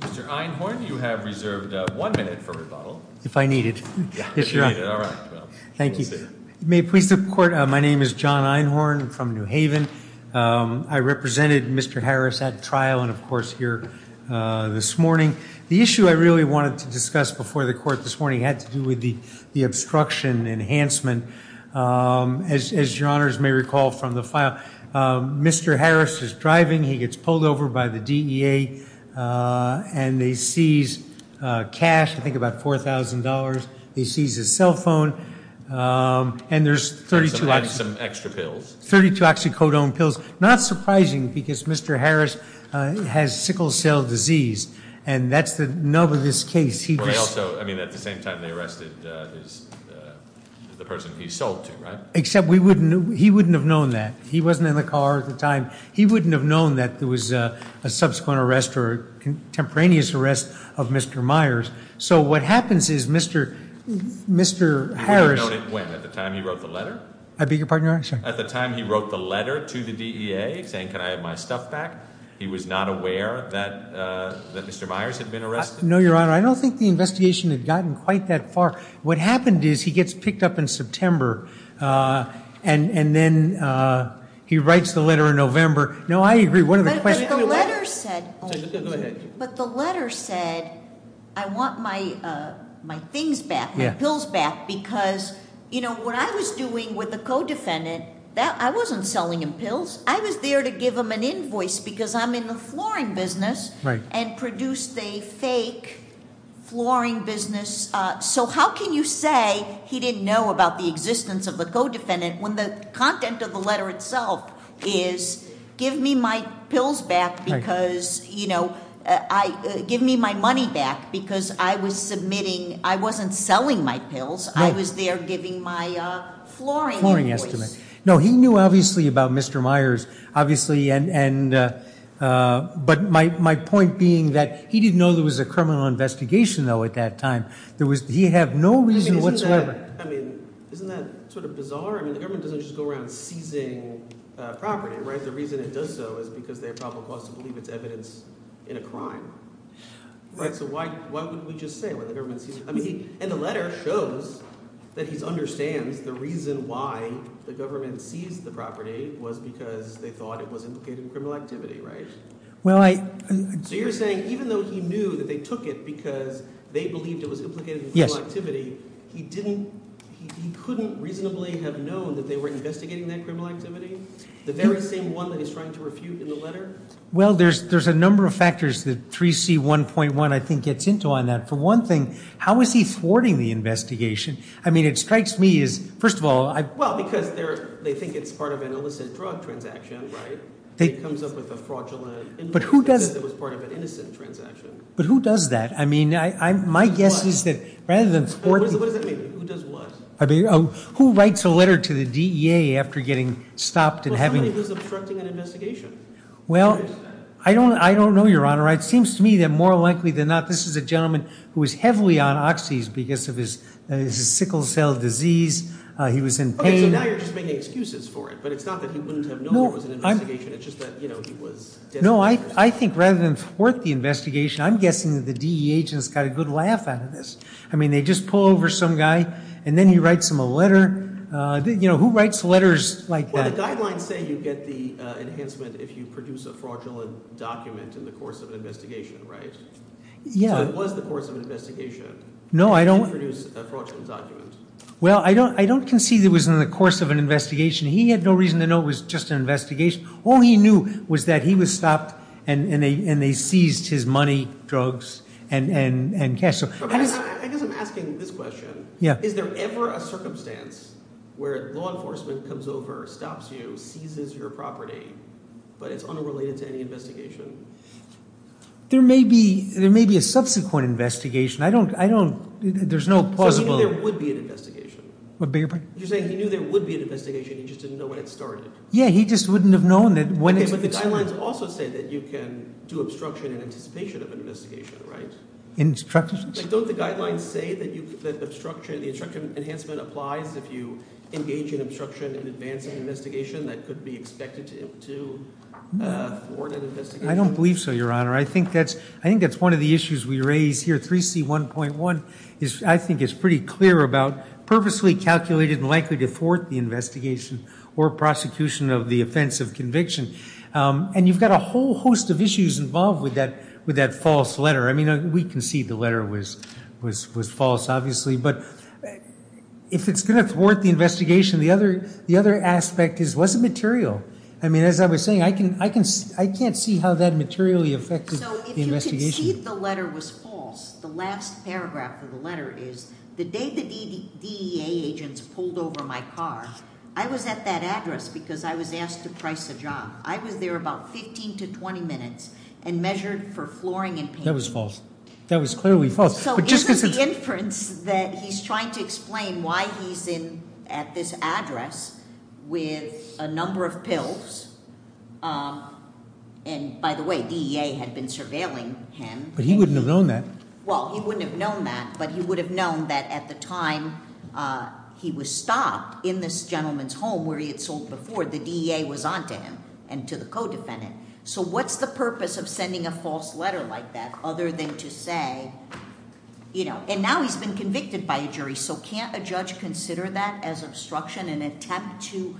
Mr. Einhorn, you have reserved one minute for rebuttal. If I need it. If you need it. All right. Thank you. Please. May it please the court. My name is John Einhorn from New Haven. I represented Mr. Harris at trial and of course here this morning. The issue I really wanted to discuss before the court this morning had to do with the obstruction enhancement. As your honors may recall from the file, Mr. Harris is driving. He gets pulled over by the DEA and they seize cash, I think about $4,000. He seizes his cell phone and there's 32 extra pills, 32 oxycodone pills. Not surprising because Mr. Harris has sickle cell disease and that's the nub of this case. He just- I mean at the same time they arrested the person he sold to, right? Except he wouldn't have known that. He wasn't in the car at the time. He wouldn't have known that there was a subsequent arrest or contemporaneous arrest of Mr. Myers. So what happens is Mr. Harris- You wouldn't have known it when? At the time he wrote the letter? I beg your pardon, your honor? Sure. At the time he wrote the letter to the DEA saying, can I have my stuff back? He was not aware that Mr. Myers had been arrested? No, your honor. I don't think the investigation had gotten quite that far. What happened is he gets picked up in September and then he writes the letter in November. No, I agree. One of the questions- The letter said- Go ahead. But the letter said, I want my things back, my pills back, because what I was doing with the co-defendant, I wasn't selling him pills. I was there to give him an invoice because I'm in the flooring business and produced a fake flooring business. So how can you say he didn't know about the existence of the co-defendant when the content of the letter itself is, give me my pills back because, give me my money back because I was submitting, I wasn't selling my pills. I was there giving my flooring invoice. No, he knew obviously about Mr. Myers, obviously. But my point being that he didn't know there was a criminal investigation, though, at that time. He had no reason whatsoever- I mean, isn't that sort of bizarre? I mean, the government doesn't just go around seizing property, right? The reason it does so is because they probably want us to believe it's evidence in a crime. Right? So why wouldn't we just say, well, the government seized- I mean, and the letter shows that he understands the reason why the government seized the property was because they thought it was implicated in criminal activity, right? Well, I- So you're saying even though he knew that they took it because they believed it was implicated in criminal activity, he couldn't reasonably have known that they were investigating that criminal activity? The very same one that he's trying to refute in the letter? Well, there's a number of factors that 3C1.1, I think, gets into on that. For one thing, how is he thwarting the investigation? I mean, it strikes me as, first of all- Well, because they think it's part of an illicit drug transaction, right? It comes up with a fraudulent- But who does- It was part of an innocent transaction. But who does that? I mean, my guess is that rather than thwart- What does that mean? Who does what? Who writes a letter to the DEA after getting stopped and having- Well, somebody who's obstructing an investigation. Well, I don't know, Your Honor. It seems to me that more likely than not, this is a gentleman who is heavily on oxys because of his sickle cell disease. He was in pain. Okay, so now you're just making excuses for it. But it's not that he wouldn't have known it was an investigation. It's just that, you know, he was- No, I think rather than thwart the investigation, I'm guessing that the DEA agents got a good laugh out of this. I mean, they just pull over some guy, and then he writes them a letter. You know, who writes letters like that? Well, the guidelines say you get the enhancement if you produce a fraudulent document in the course of an investigation, right? Yeah. So it was the course of an investigation. No, I don't- You didn't produce a fraudulent document. Well, I don't concede it was in the course of an investigation. He had no reason to know it was just an investigation. All he knew was that he was stopped, and they seized his money, drugs, and cash. I guess I'm asking this question. Yeah. Is there ever a circumstance where law enforcement comes over, stops you, seizes your property, but it's unrelated to any investigation? There may be a subsequent investigation. I don't- there's no plausible- So he knew there would be an investigation. You're saying he knew there would be an investigation, he just didn't know when it started. Yeah, he just wouldn't have known that when it started. Okay, but the guidelines also say that you can do obstruction in anticipation of an investigation, right? Instruction? Don't the guidelines say that the obstruction enhancement applies if you engage in obstruction in advance of an investigation that could be expected to thwart an investigation? I don't believe so, Your Honor. I think that's one of the issues we raise here. 3C1.1, I think, is pretty clear about purposely calculated and likely to thwart the investigation or prosecution of the offense of conviction. And you've got a whole host of issues involved with that false letter. I mean, we concede the letter was false, obviously, but if it's going to thwart the investigation, the other aspect is what's the material? I mean, as I was saying, I can't see how that materially affected the investigation. So if you concede the letter was false, the last paragraph of the letter is, the day the DEA agents pulled over my car, I was at that address because I was asked to price a job. I was there about 15 to 20 minutes and measured for flooring and paint. That was false. That was clearly false. So isn't the inference that he's trying to explain why he's at this address with a number of pills and, by the way, DEA had been surveilling him. But he wouldn't have known that. Well, he wouldn't have known that, but he would have known that at the time he was stopped in this gentleman's home where he had sold before, the DEA was on to him and to the co-defendant. So what's the purpose of sending a false letter like that other than to say, you know, and now he's been convicted by a jury, so can't a judge consider that as obstruction and attempt to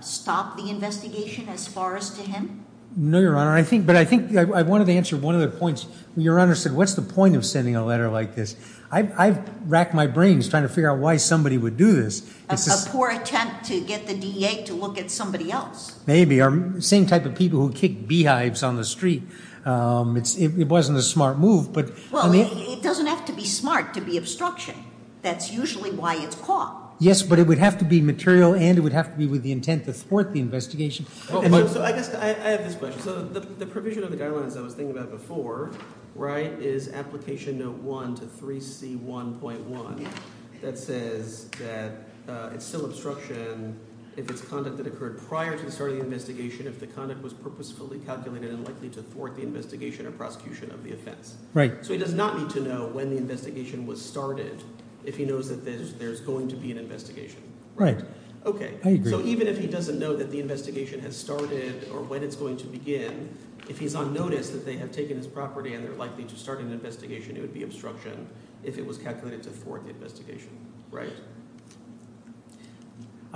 stop the investigation as far as to him? No, Your Honor. But I think I wanted to answer one of the points. Your Honor said, what's the point of sending a letter like this? I've racked my brains trying to figure out why somebody would do this. A poor attempt to get the DEA to look at somebody else. Maybe. Same type of people who kick beehives on the street. It wasn't a smart move. Well, it doesn't have to be smart to be obstruction. That's usually why it's caught. Yes, but it would have to be material and it would have to be with the intent to thwart the investigation. So I guess I have this question. So the provision of the guidelines I was thinking about before, right, is Application Note 1 to 3C1.1 that says that it's still obstruction if it's conduct that occurred prior to the start of the investigation, if the conduct was purposefully calculated and likely to thwart the investigation or prosecution of the offense. Right. So he does not need to know when the investigation was started if he knows that there's going to be an investigation. Right. Okay. I agree. So even if he doesn't know that the investigation has started or when it's going to begin, if he's on notice that they have taken his property and they're likely to start an investigation, it would be obstruction if it was calculated to thwart the investigation. Right.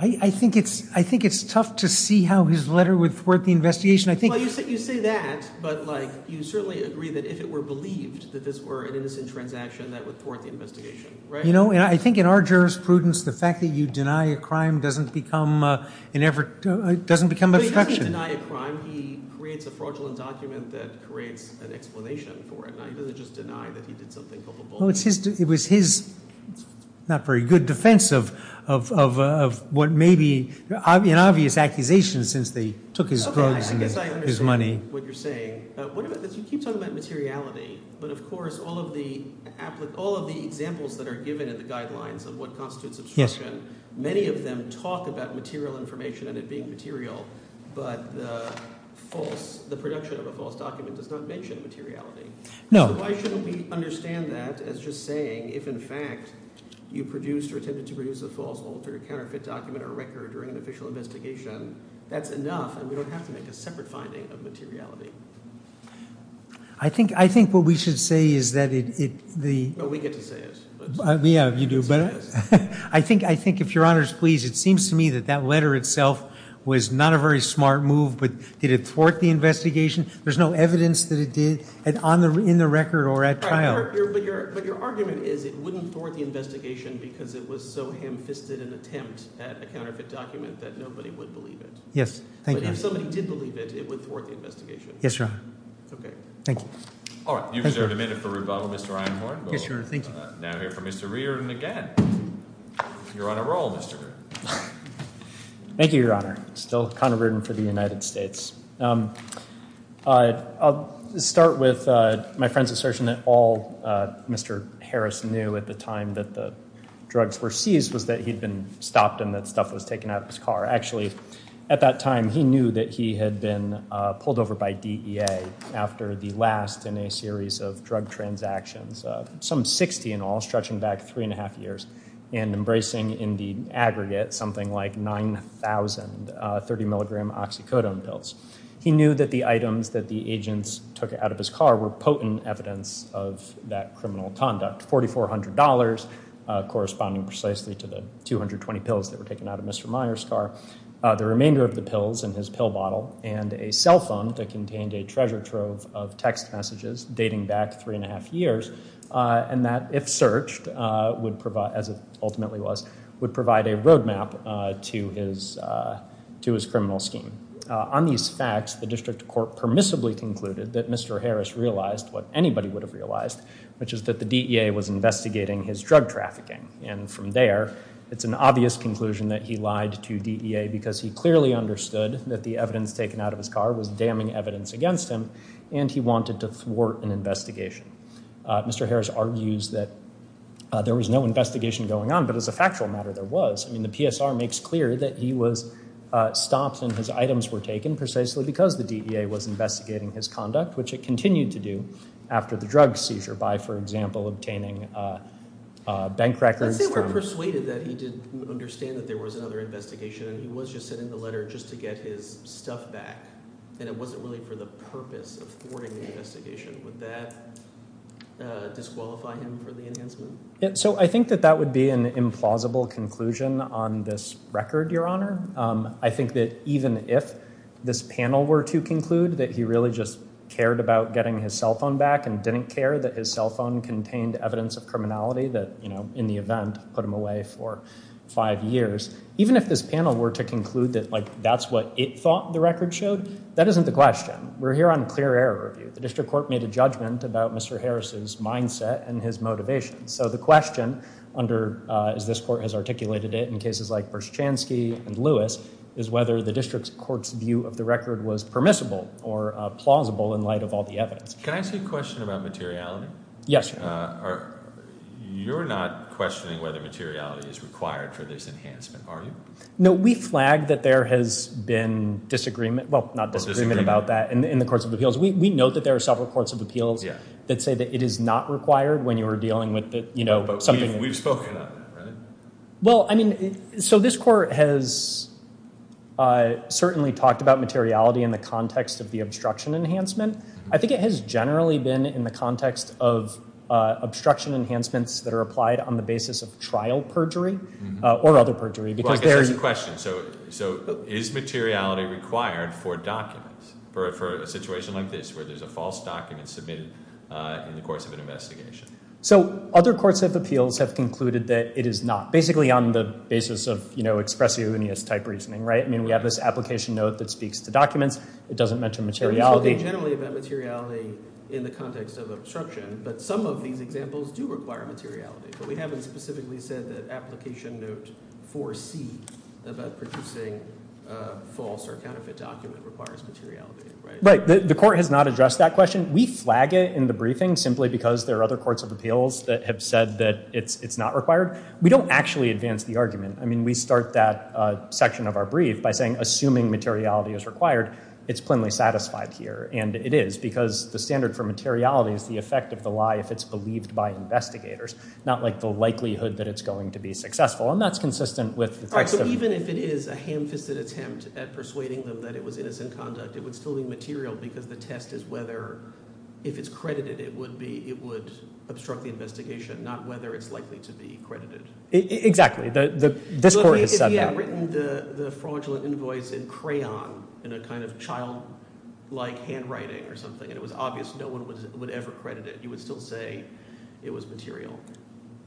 I think it's tough to see how his letter would thwart the investigation. Well, you say that, but, like, you certainly agree that if it were believed that this were an innocent transaction, that would thwart the investigation. You know, and I think in our jurisprudence, the fact that you deny a crime doesn't become obstruction. But he doesn't deny a crime. He creates a fraudulent document that creates an explanation for it. Now, he doesn't just deny that he did something culpable. Well, it was his not very good defense of what may be an obvious accusation since they took his drugs and his money. Okay, I guess I understand what you're saying. What about this? You keep talking about materiality, but, of course, all of the examples that are given in the guidelines of what constitutes obstruction, many of them talk about material information and it being material, but the false, the production of a false document does not mention materiality. No. Why shouldn't we understand that as just saying if, in fact, you produced or attempted to produce a false, altered, counterfeit document or record during an official investigation, that's enough and we don't have to make a separate finding of materiality. I think what we should say is that it, the. Well, we get to say it. Yeah, you do. I think, if Your Honor is pleased, it seems to me that that letter itself was not a very smart move, but did it thwart the investigation? There's no evidence that it did in the record or at trial. But your argument is it wouldn't thwart the investigation because it was so ham-fisted an attempt at a counterfeit document that nobody would believe it. Yes, thank you. But if somebody did believe it, it would thwart the investigation. Yes, Your Honor. Okay. Thank you. All right, you deserve a minute for rebuttal, Mr. Einhorn. Yes, Your Honor, thank you. Now here for Mr. Reardon again. You're on a roll, Mr. Reardon. Thank you, Your Honor. Still Connor Reardon for the United States. I'll start with my friend's assertion that all Mr. Harris knew at the time that the drugs were seized was that he'd been stopped and that stuff was taken out of his car. Actually, at that time he knew that he had been pulled over by DEA after the last in a series of drug transactions. Some 60 in all, stretching back three and a half years and embracing in the aggregate something like 9,000 30 milligram oxycodone pills. He knew that the items that the agents took out of his car were potent evidence of that criminal conduct. $4,400 corresponding precisely to the 220 pills that were taken out of Mr. Meyer's car. The remainder of the pills in his pill bottle and a cell phone that contained a treasure trove of text messages dating back three and a half years. And that if searched, as it ultimately was, would provide a roadmap to his criminal scheme. On these facts, the district court permissibly concluded that Mr. Harris realized what anybody would have realized, which is that the DEA was investigating his drug trafficking. And from there, it's an obvious conclusion that he lied to DEA because he clearly understood that the evidence taken out of his car was damning evidence against him and he wanted to thwart an investigation. Mr. Harris argues that there was no investigation going on, but as a factual matter, there was. I mean, the PSR makes clear that he was stopped and his items were taken precisely because the DEA was investigating his conduct, which it continued to do after the drug seizure by, for example, obtaining bank records. Let's say we're persuaded that he did understand that there was another investigation and he was just sending the letter just to get his stuff back and it wasn't really for the purpose of thwarting the investigation. Would that disqualify him for the enhancement? So I think that that would be an implausible conclusion on this record, Your Honor. I think that even if this panel were to conclude that he really just cared about getting his cell phone back and didn't care that his cell phone contained evidence of criminality that, you know, in the event put him away for five years, even if this panel were to conclude that, like, that's what it thought the record showed, that isn't the question. We're here on clear error review. The district court made a judgment about Mr. Harris's mindset and his motivation. So the question under, as this court has articulated it in cases like Bershchansky and Lewis, is whether the district court's view of the record was permissible or plausible in light of all the evidence. Can I ask you a question about materiality? Yes, Your Honor. You're not questioning whether materiality is required for this enhancement, are you? No, we flag that there has been disagreement, well, not disagreement about that, in the courts of appeals. We note that there are several courts of appeals that say that it is not required when you are dealing with, you know, something. But we've spoken on that, right? Well, I mean, so this court has certainly talked about materiality in the context of the obstruction enhancement. I think it has generally been in the context of obstruction enhancements that are applied on the basis of trial perjury or other perjury Well, I guess there's a question. So is materiality required for documents for a situation like this where there's a false document submitted in the course of an investigation? So other courts of appeals have concluded that it is not, basically on the basis of, you know, expressiveness-type reasoning, right? I mean, we have this application note that speaks to documents. It doesn't mention materiality. We've spoken generally about materiality in the context of obstruction, but some of these examples do require materiality. But we haven't specifically said that application note 4C about producing a false or counterfeit document requires materiality, right? Right. The court has not addressed that question. We flag it in the briefing simply because there are other courts of appeals that have said that it's not required. We don't actually advance the argument. I mean, we start that section of our brief by saying, assuming materiality is required, it's plainly satisfied here. And it is because the standard for materiality is the effect of the lie if it's believed by investigators, not, like, the likelihood that it's going to be successful. And that's consistent with the custom. Right. So even if it is a ham-fisted attempt at persuading them that it was innocent conduct, it would still be material because the test is whether, if it's credited, it would obstruct the investigation, not whether it's likely to be credited. Exactly. This court has said that. If you had written the fraudulent invoice in crayon in a kind of child-like handwriting or something and it was obvious no one would ever credit it, you would still say it was material.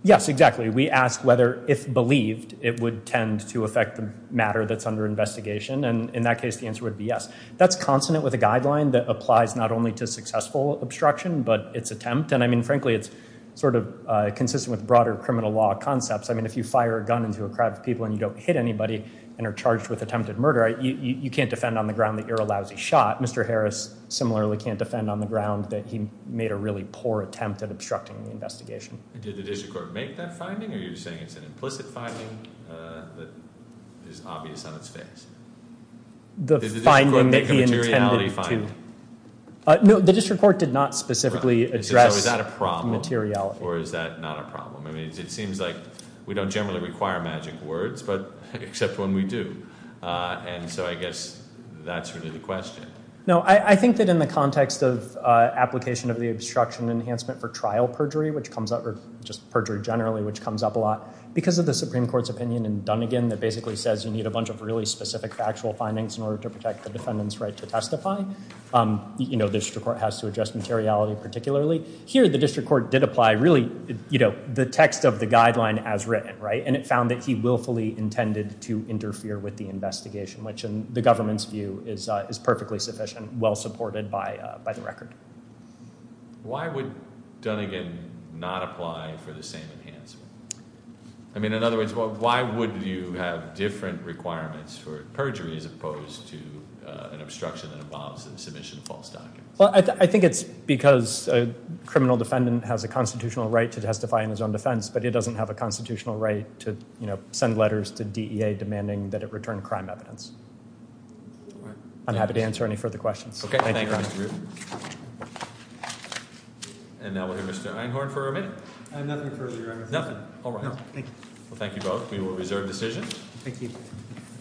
Yes, exactly. We ask whether, if believed, it would tend to affect the matter that's under investigation. And in that case, the answer would be yes. That's consonant with a guideline that applies not only to successful obstruction but its attempt. And, I mean, frankly, it's sort of consistent with broader criminal law concepts. I mean, if you fire a gun into a crowd of people and you don't hit anybody and are charged with attempted murder, you can't defend on the ground that you're a lousy shot. Mr. Harris similarly can't defend on the ground that he made a really poor attempt at obstructing the investigation. Did the district court make that finding, or are you saying it's an implicit finding that is obvious on its face? Did the district court make a materiality finding? No, the district court did not specifically address materiality. So is that a problem, or is that not a problem? I mean, it seems like we don't generally require magic words, except when we do. And so I guess that's really the question. No, I think that in the context of application of the obstruction enhancement for trial perjury, which comes up, or just perjury generally, which comes up a lot, because of the Supreme Court's opinion in Dunnegan that basically says you need a bunch of really specific factual findings in order to protect the defendant's right to testify, the district court has to address materiality particularly. Here the district court did apply really the text of the guideline as written, and it found that he willfully intended to interfere with the investigation, which in the government's view is perfectly sufficient, well supported by the record. Why would Dunnegan not apply for the same enhancement? I mean, in other words, why would you have different requirements for perjury as opposed to an obstruction that involves the submission of false documents? I think it's because a criminal defendant has a constitutional right to testify in his own defense, but he doesn't have a constitutional right to send letters to DEA demanding that it return crime evidence. I'm happy to answer any further questions. Thank you. And now we'll hear Mr. Einhorn for a minute. Nothing further, Your Honor. Nothing? All right. No, thank you. Well, thank you both. We will reserve decisions. Thank you.